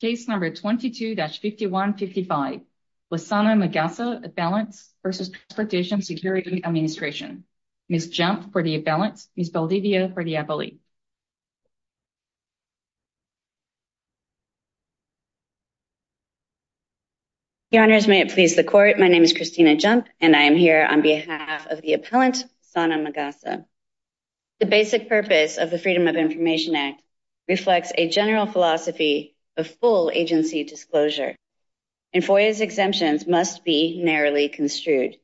Case number 22-5155, Lassana Magassa, Appellants v. Transportation Security Administration, Ms. Jump for the Appellants, Ms. Baldivia for the Appellee. Your Honors, may it please the Court, my name is Christina Jump and I am here on behalf of the Appellant Lassana Magassa. The basic purpose of the Freedom of Information Act reflects a general philosophy of full agency disclosure, and FOIA's exemptions must be narrowly construed.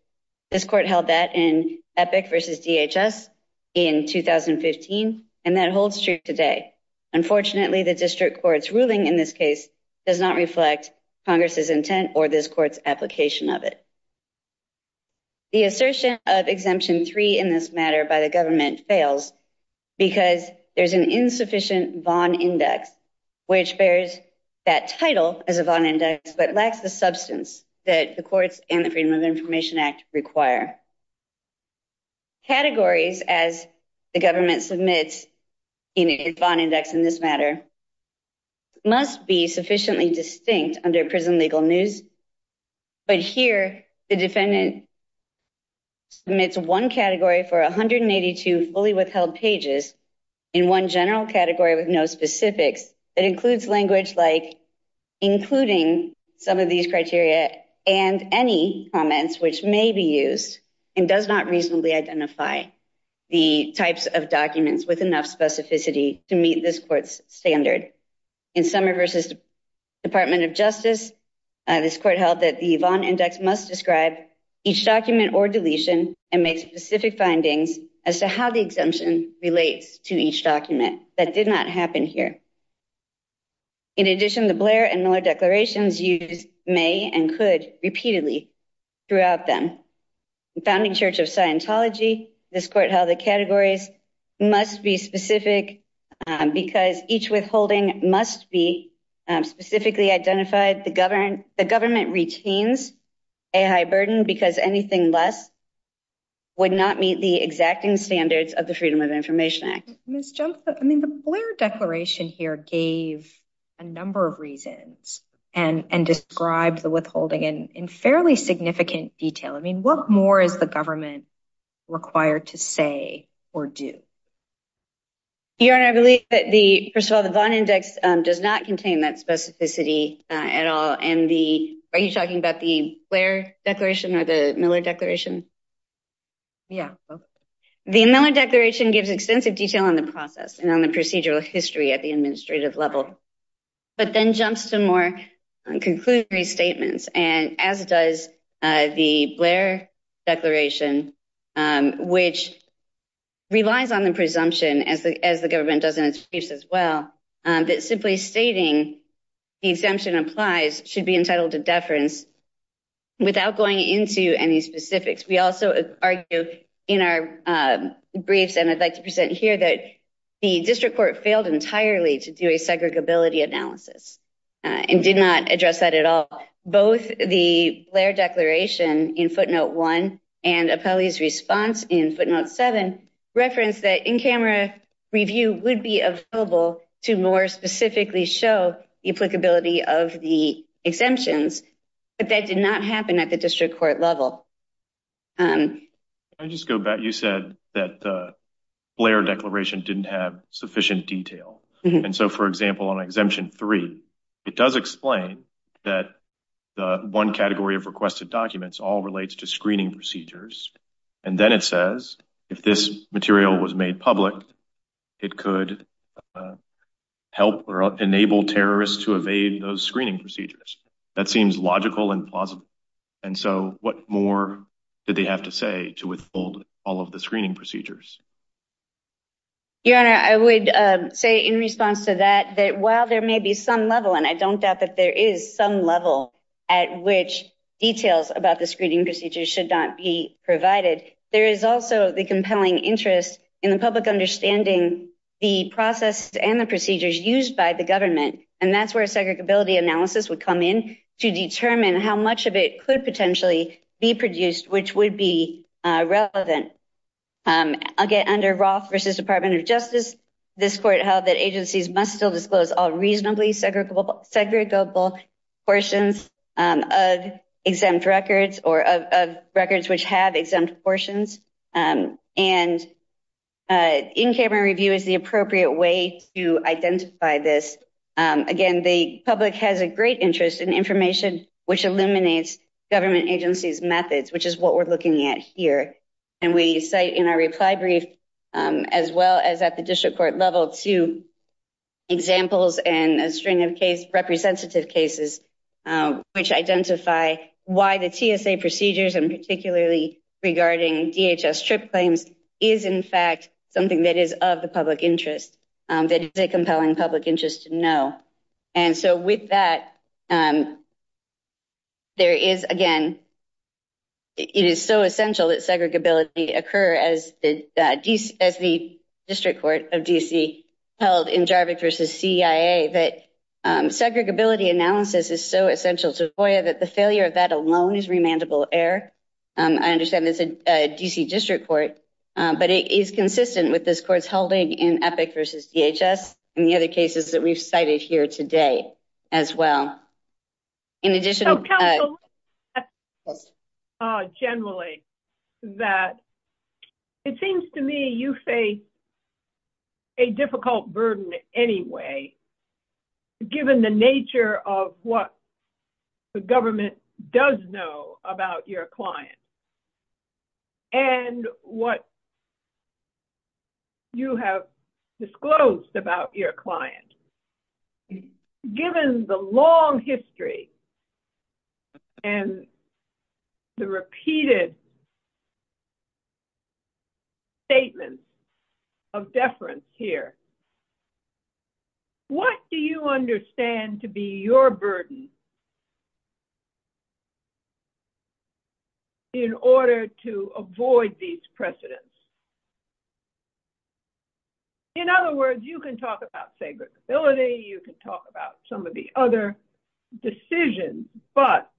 This Court held that in Epic v. DHS in 2015, and that holds true today. Unfortunately, the District Court's ruling in this case does not reflect Congress's intent or this Court's application of it. The assertion of Exemption 3 in this matter by the Government fails because there is an insufficient Vaughn Index, which bears that title as a Vaughn Index, but lacks the substance that the Courts and the Freedom of Information Act require. Categories, as the Government submits in a Vaughn Index in this matter, must be sufficiently distinct under prison legal news. But here, the Defendant submits one category for 182 fully withheld pages, and one general category with no specifics that includes language like, including some of these criteria and any comments which may be used, and does not reasonably identify the types of documents with enough specificity to meet this Court's standard. In Summer v. Department of Justice, this Court held that the Vaughn Index must describe each document or deletion and make specific findings as to how the exemption relates to each document. That did not happen here. In addition, the Blair and Miller declarations used may and could repeatedly throughout them. In Founding Church of Scientology, this Court held that categories must be specific because each withholding must be specifically identified. The Government retains a high burden because anything less would not meet the exacting standards of the Freedom of Information Act. Ms. Jumpa, I mean, the Blair Declaration here gave a number of reasons and described the withholding in fairly significant detail. I mean, what more is the Government required to say or do? Your Honor, I believe that the, first of all, the Vaughn Index does not contain that specificity at all. And the, are you talking about the Blair Declaration or the Miller Declaration? Yeah. The Miller Declaration gives extensive detail on the process and on the procedural history at the administrative level, but then jumps to more conclusory statements. And as does the Blair Declaration, which relies on the presumption, as the Government does in its briefs as well, that simply stating the exemption applies should be entitled to deference without going into any specifics. We also argue in our briefs, and I'd like to present here, that the District Court failed entirely to do a segregability analysis and did not address that at all. Both the Blair Declaration in Footnote 1 and Appellee's response in Footnote 7 referenced that in-camera review would be available to more specifically show the applicability of the exemptions, but that did not happen at the District Court level. Can I just go back? You said that the Blair Declaration didn't have sufficient detail. And so, for example, on Exemption 3, it does explain that the one category of requested documents all relates to screening procedures. And then it says if this material was made public, it could help or enable terrorists to evade those screening procedures. That seems logical and plausible. And so, what more did they have to say to withhold all of the screening procedures? Your Honor, I would say in response to that, that while there may be some level, and I don't doubt that there is some level at which details about the screening procedures should not be provided, there is also the compelling interest in the public understanding the process and the procedures used by the government. And that's where a segregability analysis would come in to determine how much of it could potentially be produced, which would be relevant. Again, under Roth v. Department of Justice, this Court held that agencies must still disclose all reasonably segregable portions of exempt records or of records which have exempt portions. And in-camera review is the appropriate way to identify this. Again, the public has a great interest in information which eliminates government agencies' methods, which is what we're looking at here. And we cite in our reply brief, as well as at the district court level, two examples and a string of case representative cases, which identify why the TSA procedures, and particularly regarding DHS trip claims, is in fact something that is of the public interest, that is a compelling public interest to know. And so with that, there is, again, it is so essential that segregability occur as the district court of D.C. held in Jarvik v. CIA, that segregability analysis is so essential to FOIA that the failure of that alone is remandable error. I understand this is a D.C. district court, but it is consistent with this Court's holding in Epic v. DHS and the other cases that we've cited here today, as well. So counsel, generally, that it seems to me you face a difficult burden anyway, given the nature of what the government does know about your client and what you have disclosed about your client. Given the long history and the repeated statements of deference here, what do you understand to be your burden in order to avoid these precedents? In other words, you can talk about segregability, you can talk about some of the other decisions, but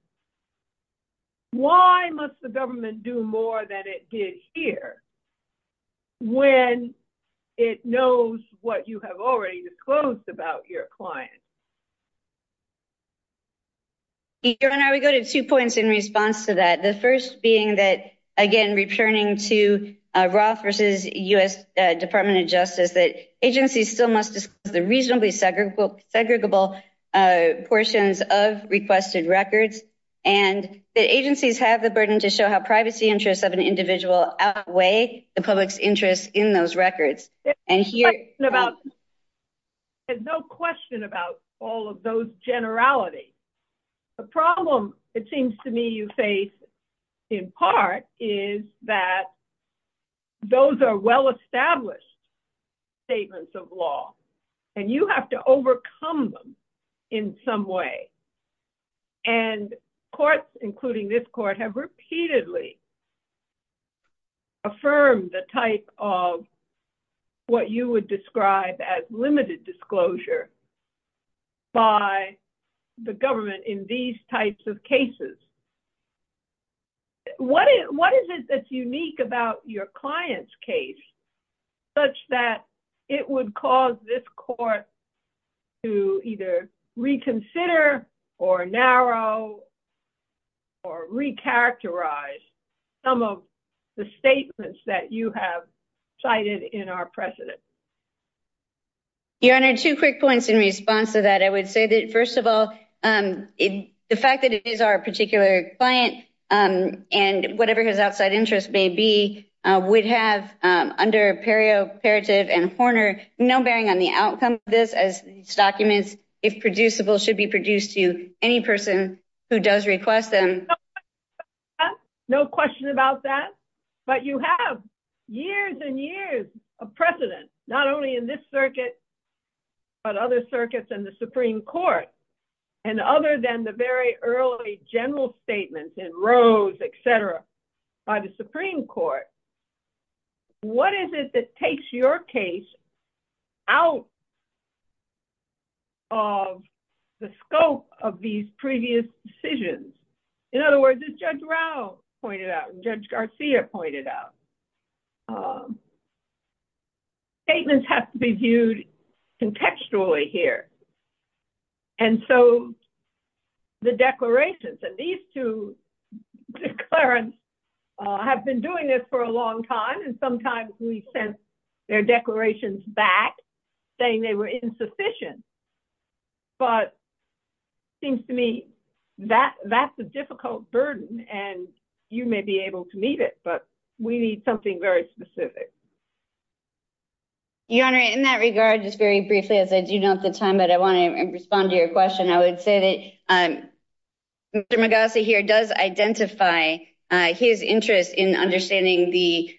why must the government do more than it did here when it knows what you have already disclosed about your client? Your Honor, we go to two points in response to that. The first being that, again, returning to Roth v. U.S. Department of Justice, that agencies still must disclose the reasonably segregable portions of requested records, and that agencies have the burden to show how privacy interests of an individual outweigh the public's interest in those records. There's no question about all of those generalities. The problem, it seems to me, you face in part is that those are well-established statements of law, and you have to overcome them in some way. Courts, including this court, have repeatedly affirmed the type of what you would describe as limited disclosure by the government in these types of cases. What is it that's unique about your client's case such that it would cause this court to either reconsider or narrow or recharacterize some of the statements that you have cited in our precedent? Your Honor, two quick points in response to that. I would say that, first of all, the fact that it is our particular client, and whatever his outside interest may be, would have under perioperative and Horner no bearing on the outcome of this, as these documents, if producible, should be produced to any person who does request them. No question about that, but you have years and years of precedent, not only in this circuit, but other circuits in the Supreme Court. Other than the very early general statements in Rose, et cetera, by the Supreme Court, what is it that takes your case out of the scope of these previous decisions? In other words, as Judge Rao pointed out and Judge Garcia pointed out, statements have to be viewed contextually here, and so the declarations. These two declarants have been doing this for a long time, and sometimes we sent their declarations back saying they were insufficient, but it seems to me that's a difficult burden, and you may be able to meet it, but we need something very specific. Your Honor, in that regard, just very briefly, as I do know at the time, but I want to respond to your question, I would say that Mr. Magasi here does identify his interest in understanding the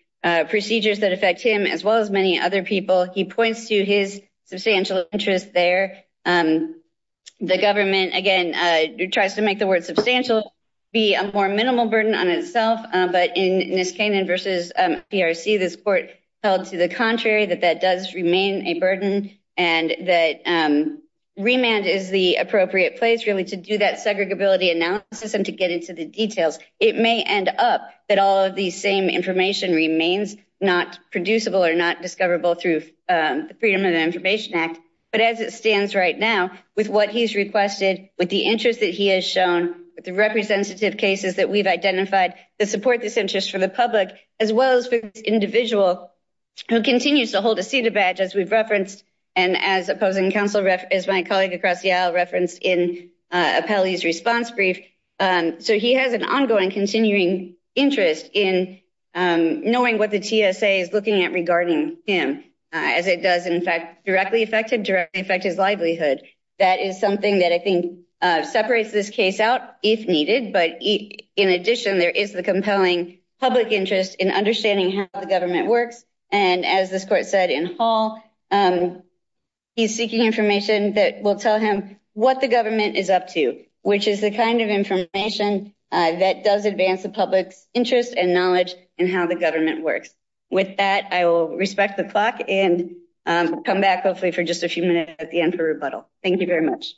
procedures that affect him, as well as many other people. He points to his substantial interest there. The government, again, tries to make the word substantial be a more minimal burden on itself, but in Niskanen v. PRC, this court held to the contrary, that that does remain a burden, and that remand is the appropriate place, really, to do that segregability analysis and to get into the details. It may end up that all of these same information remains not producible or not discoverable through the Freedom of Information Act, but as it stands right now, with what he's requested, with the interest that he has shown, with the representative cases that we've identified that support this interest for the public, as well as for this individual who continues to hold a CEDA badge, as we've referenced, and as opposing counsel, as my colleague across the aisle referenced in Appellee's response brief. So he has an ongoing, continuing interest in knowing what the TSA is looking at regarding him, as it does, in fact, directly affect him, directly affect his livelihood. That is something that I think separates this case out, if needed, but in addition there is the compelling public interest in understanding how the government works, and as this court said in Hall, he's seeking information that will tell him what the government is up to, which is the kind of information that does advance the public's interest and knowledge in how the government works. With that, I will respect the clock and come back, hopefully, for just a few minutes at the end for rebuttal. Thank you very much.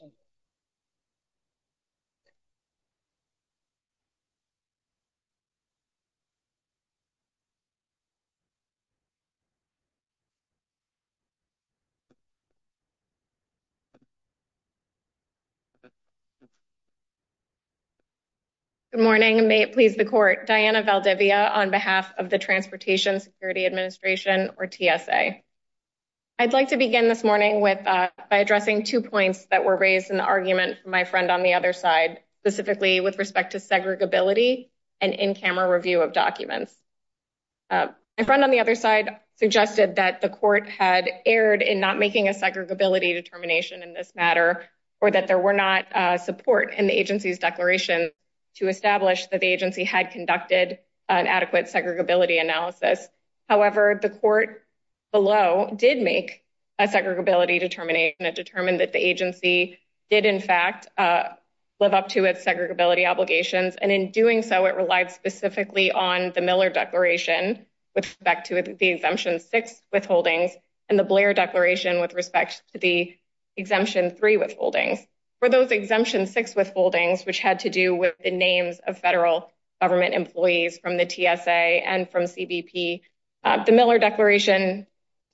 Good morning. May it please the court. Diana Valdivia on behalf of the Transportation Security Administration, or TSA. I'd like to begin this morning by addressing two points that were raised in the argument from my friend on the other side, specifically with respect to segregability and in-camera review of documents. My friend on the other side suggested that the court had erred in not making a segregability determination in this matter, or that there were not support in the agency's declaration to establish that the agency had conducted an adequate segregability analysis. However, the court below did make a segregability determination. It determined that the agency did, in fact, live up to its segregability obligations, and in doing so, it relied specifically on the Miller Declaration with respect to the Exemption 6 withholdings and the Blair Declaration with respect to the Exemption 3 withholdings. For those Exemption 6 withholdings, which had to do with the names of federal government employees from the TSA and from CBP, the Miller Declaration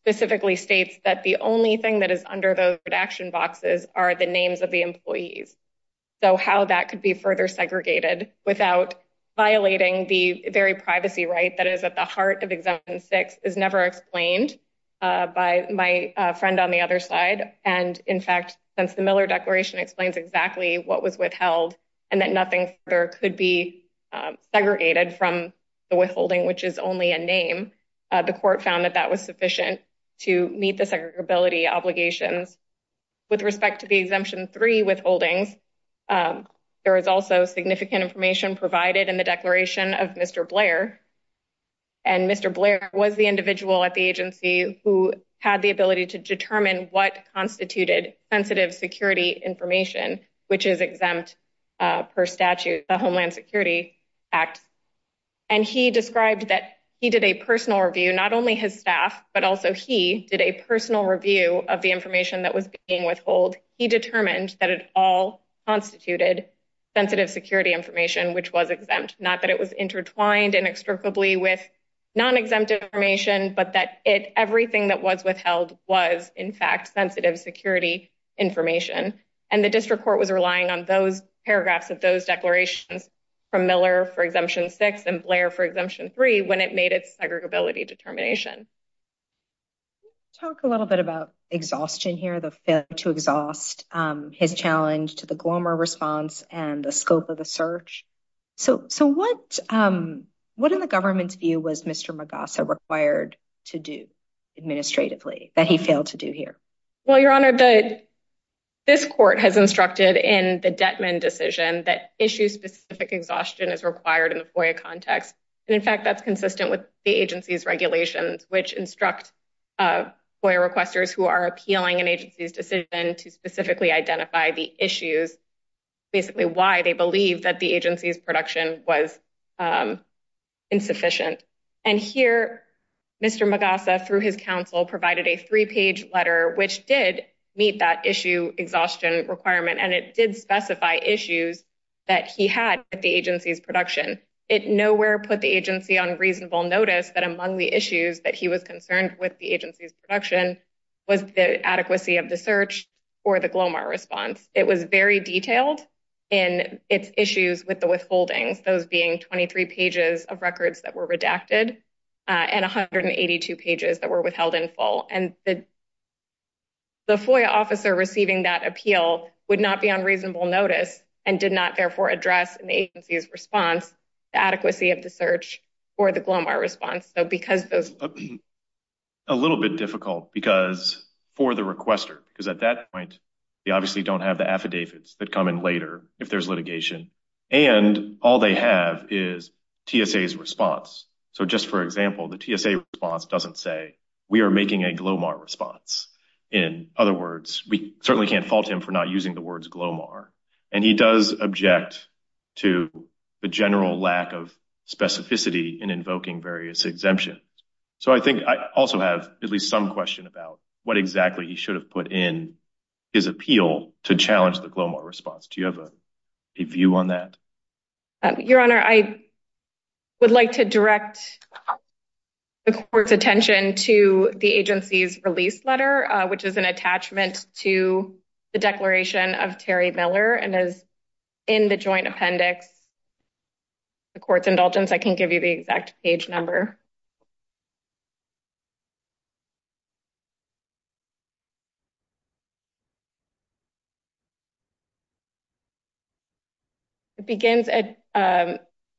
specifically states that the only thing that is under those redaction boxes are the names of the employees. So how that could be further segregated without violating the very privacy right that is at the heart of Exemption 6 is never explained by my friend on the other side. And, in fact, since the Miller Declaration explains exactly what was withheld and that nothing further could be segregated from the withholding, which is only a name, the court found that that was sufficient to meet the segregability obligations. With respect to the Exemption 3 withholdings, there is also significant information provided in the declaration of Mr. Blair, and Mr. Blair was the individual at the agency who had the ability to determine what constituted sensitive security information, which is exempt per statute, the Homeland Security Act. And he described that he did a personal review, not only his staff, but also he did a personal review of the information that was being withheld. He determined that it all constituted sensitive security information, which was exempt, not that it was intertwined inextricably with non-exempt information, but that everything that was withheld was, in fact, sensitive security information. And the district court was relying on those paragraphs of those declarations from Miller for Exemption 6 and Blair for Exemption 3 when it made its segregability determination. Let's talk a little bit about exhaustion here, the failure to exhaust his challenge to the Glomar response and the scope of the search. So what in the government's view was Mr. Magassa required to do administratively that he failed to do here? Well, Your Honor, this court has instructed in the Dettman decision that issue-specific exhaustion is required in the FOIA context. And, in fact, that's consistent with the agency's regulations, which instruct FOIA requesters who are appealing an agency's decision to specifically identify the issues, basically why they believe that the agency's production was insufficient. And here, Mr. Magassa, through his counsel, provided a three-page letter, which did meet that issue exhaustion requirement, and it did specify issues that he had at the agency's production. It nowhere put the agency on reasonable notice that among the issues that he was concerned with the agency's production was the adequacy of the search or the Glomar response. It was very detailed in its issues with the withholdings, those being 23 pages of records that were redacted and 182 pages that were withheld in full. And the FOIA officer receiving that appeal would not be on reasonable notice and did not, therefore, address an agency's response, the adequacy of the search, or the Glomar response. A little bit difficult because for the requester, because at that point, they obviously don't have the affidavits that come in later if there's litigation, and all they have is TSA's response. So just for example, the TSA response doesn't say, we are making a Glomar response. In other words, we certainly can't fault him for not using the words Glomar. And he does object to the general lack of specificity in invoking various exemptions. So I think I also have at least some question about what exactly he should have put in his appeal to challenge the Glomar response. Do you have a view on that? Your Honor, I would like to direct the court's attention to the agency's release letter, which is an attachment to the declaration of Terry Miller and is in the joint appendix. The court's indulgence, I can give you the exact page number. It begins at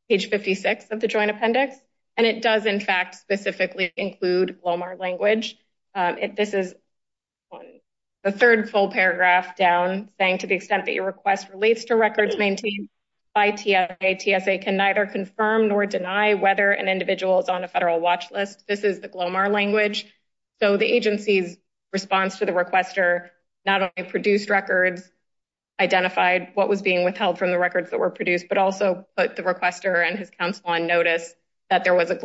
page 56 of the joint appendix, and it does, in fact, specifically include Glomar language. This is the third full paragraph down, saying to the extent that your request relates to records maintained by TSA, TSA can neither confirm nor deny whether an individual is on a federal watch list. This is the Glomar language. So the agency's response to the requester not only produced records, identified what was being withheld from the records that were produced, but also put the requester and his counsel on notice that there was a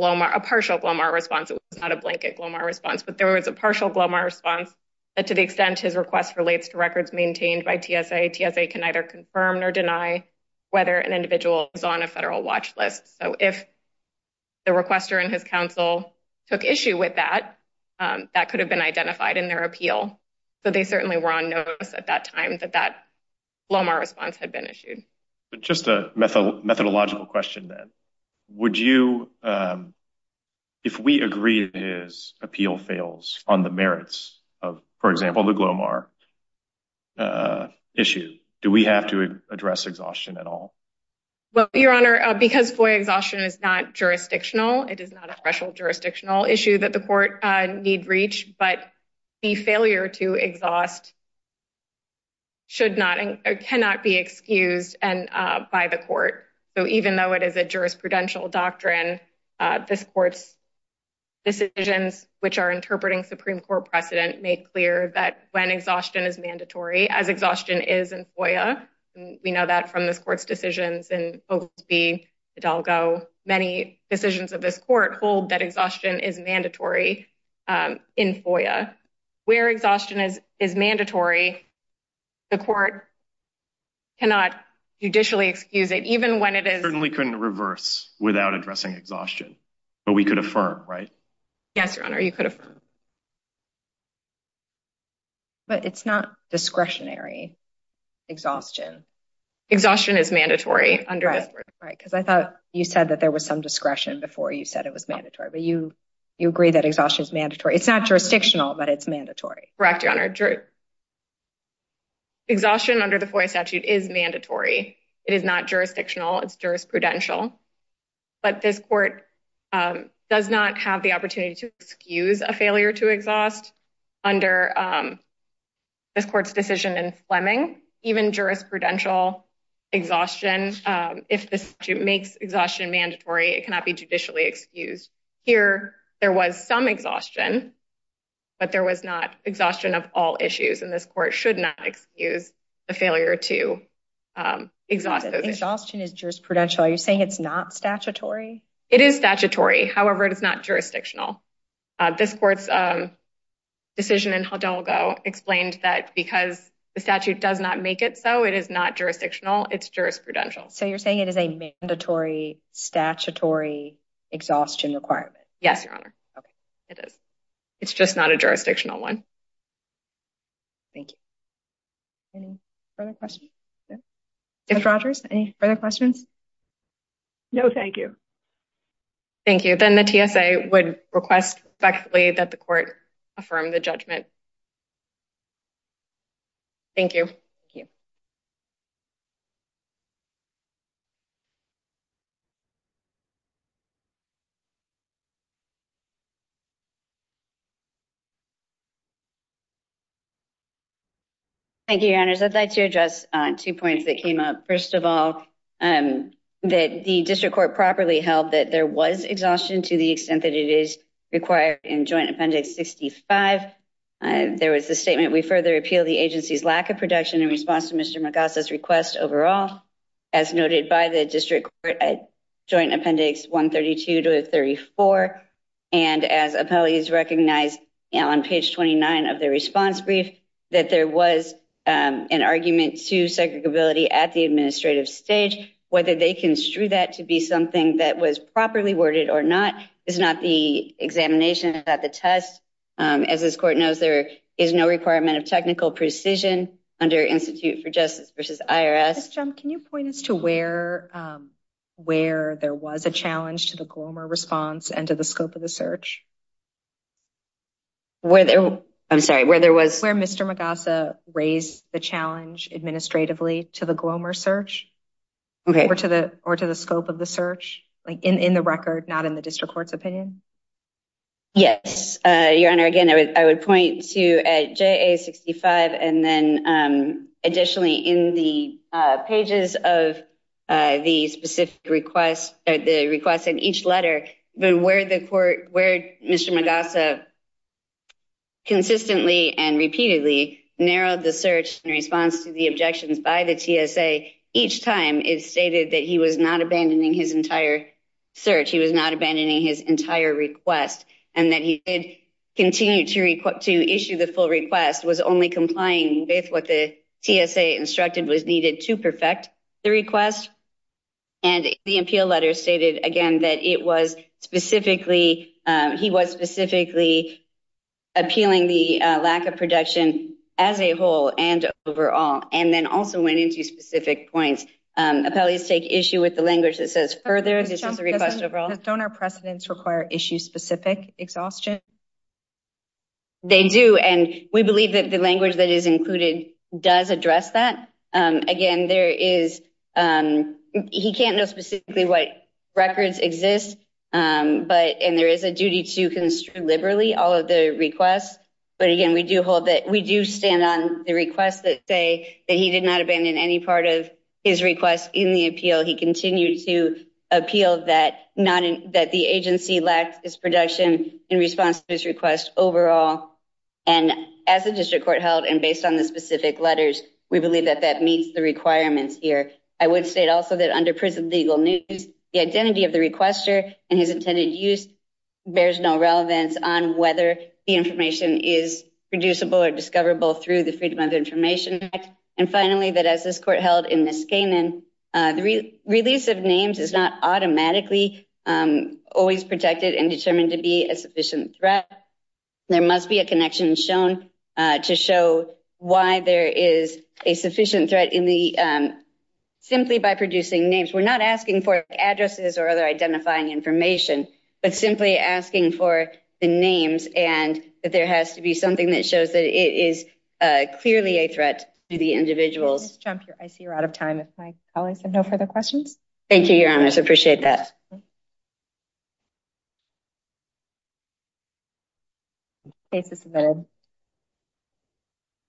partial Glomar response. It was not a blanket Glomar response, but there was a partial Glomar response that to the extent his request relates to records maintained by TSA, TSA can neither confirm nor deny whether an individual is on a federal watch list. So if the requester and his counsel took issue with that, that could have been identified in their appeal. So they certainly were on notice at that time that that Glomar response had been issued. Just a methodological question then. Would you, if we agree his appeal fails on the merits of, for example, the Glomar issue, do we have to address exhaustion at all? Well, Your Honor, because FOIA exhaustion is not jurisdictional, it is not a special jurisdictional issue that the court need reach, but the failure to exhaust should not or cannot be excused by the court. So even though it is a jurisprudential doctrine, this court's decisions, which are interpreting Supreme Court precedent, make clear that when exhaustion is mandatory, as exhaustion is in FOIA. We know that from this court's decisions and OSB, Hidalgo, many decisions of this court hold that exhaustion is mandatory in FOIA. Where exhaustion is mandatory, the court cannot judicially excuse it, even when it is. Certainly couldn't reverse without addressing exhaustion, but we could affirm, right? Yes, Your Honor, you could affirm. But it's not discretionary, exhaustion. Exhaustion is mandatory. Right, because I thought you said that there was some discretion before you said it was mandatory, but you agree that exhaustion is mandatory. It's not jurisdictional, but it's mandatory. Correct, Your Honor. Exhaustion under the FOIA statute is mandatory. It is not jurisdictional, it's jurisprudential. But this court does not have the opportunity to excuse a failure to exhaust under this court's decision in Fleming. Even jurisprudential exhaustion, if the statute makes exhaustion mandatory, it cannot be judicially excused. Here, there was some exhaustion, but there was not exhaustion of all issues, and this court should not excuse the failure to exhaust those issues. Exhaustion is jurisprudential, are you saying it's not statutory? It is statutory, however, it is not jurisdictional. This court's decision in Hidalgo explained that because the statute does not make it so, it is not jurisdictional, it's jurisprudential. So you're saying it is a mandatory, statutory exhaustion requirement? Yes, Your Honor. Okay. It is. It's just not a jurisdictional one. Thank you. Any further questions? Judge Rogers, any further questions? No, thank you. Thank you. Then the TSA would request effectively that the court affirm the judgment. Thank you. Thank you. Thank you, Your Honors. I'd like to address two points that came up. First of all, that the district court properly held that there was exhaustion to the extent that it is required in Joint Appendix 65. There was a statement, we further appeal the agency's lack of production in response to Mr. McGoss' request overall. As noted by the district court at Joint Appendix 132 to 34, and as appellees recognized on page 29 of the response brief, that there was an argument to segregability at the administrative stage. Whether they construe that to be something that was properly worded or not is not the examination at the test. As this court knows, there is no requirement of technical precision under Institute for Justice v. IRS. Ms. Chum, can you point us to where there was a challenge to the Glomer response and to the scope of the search? I'm sorry, where there was? Where Mr. McGoss' raised the challenge administratively to the Glomer search or to the scope of the search? In the record, not in the district court's opinion? Yes, Your Honor. Again, I would point to at JA-65 and then additionally in the pages of the specific request, the request in each letter, where Mr. McGoss' consistently and repeatedly narrowed the search in response to the objections by the TSA. Each time it stated that he was not abandoning his entire search, he was not abandoning his entire request, and that he did continue to issue the full request, was only complying with what the TSA instructed was needed to perfect the request. And the appeal letter stated again that he was specifically appealing the lack of production as a whole and overall, and then also went into specific points. Appellees take issue with the language that says further, this is a request overall. Don't our precedents require issue-specific exhaustion? They do, and we believe that the language that is included does address that. Again, he can't know specifically what records exist, and there is a duty to construe liberally all of the requests. But again, we do stand on the requests that say that he did not abandon any part of his request in the appeal. He continued to appeal that the agency lacked its production in response to his request overall. And as the district court held, and based on the specific letters, we believe that that meets the requirements here. I would state also that under prison legal news, the identity of the requester and his intended use bears no relevance on whether the information is reducible or discoverable through the Freedom of Information Act. And finally, that as this court held in Niskanen, the release of names is not automatically always protected and determined to be a sufficient threat. There must be a connection shown to show why there is a sufficient threat simply by producing names. We're not asking for addresses or other identifying information, but simply asking for the names and that there has to be something that shows that it is clearly a threat to the individuals. Ms. Trump, I see you're out of time if my colleagues have no further questions. Thank you, Your Honors. I appreciate that. Thank you.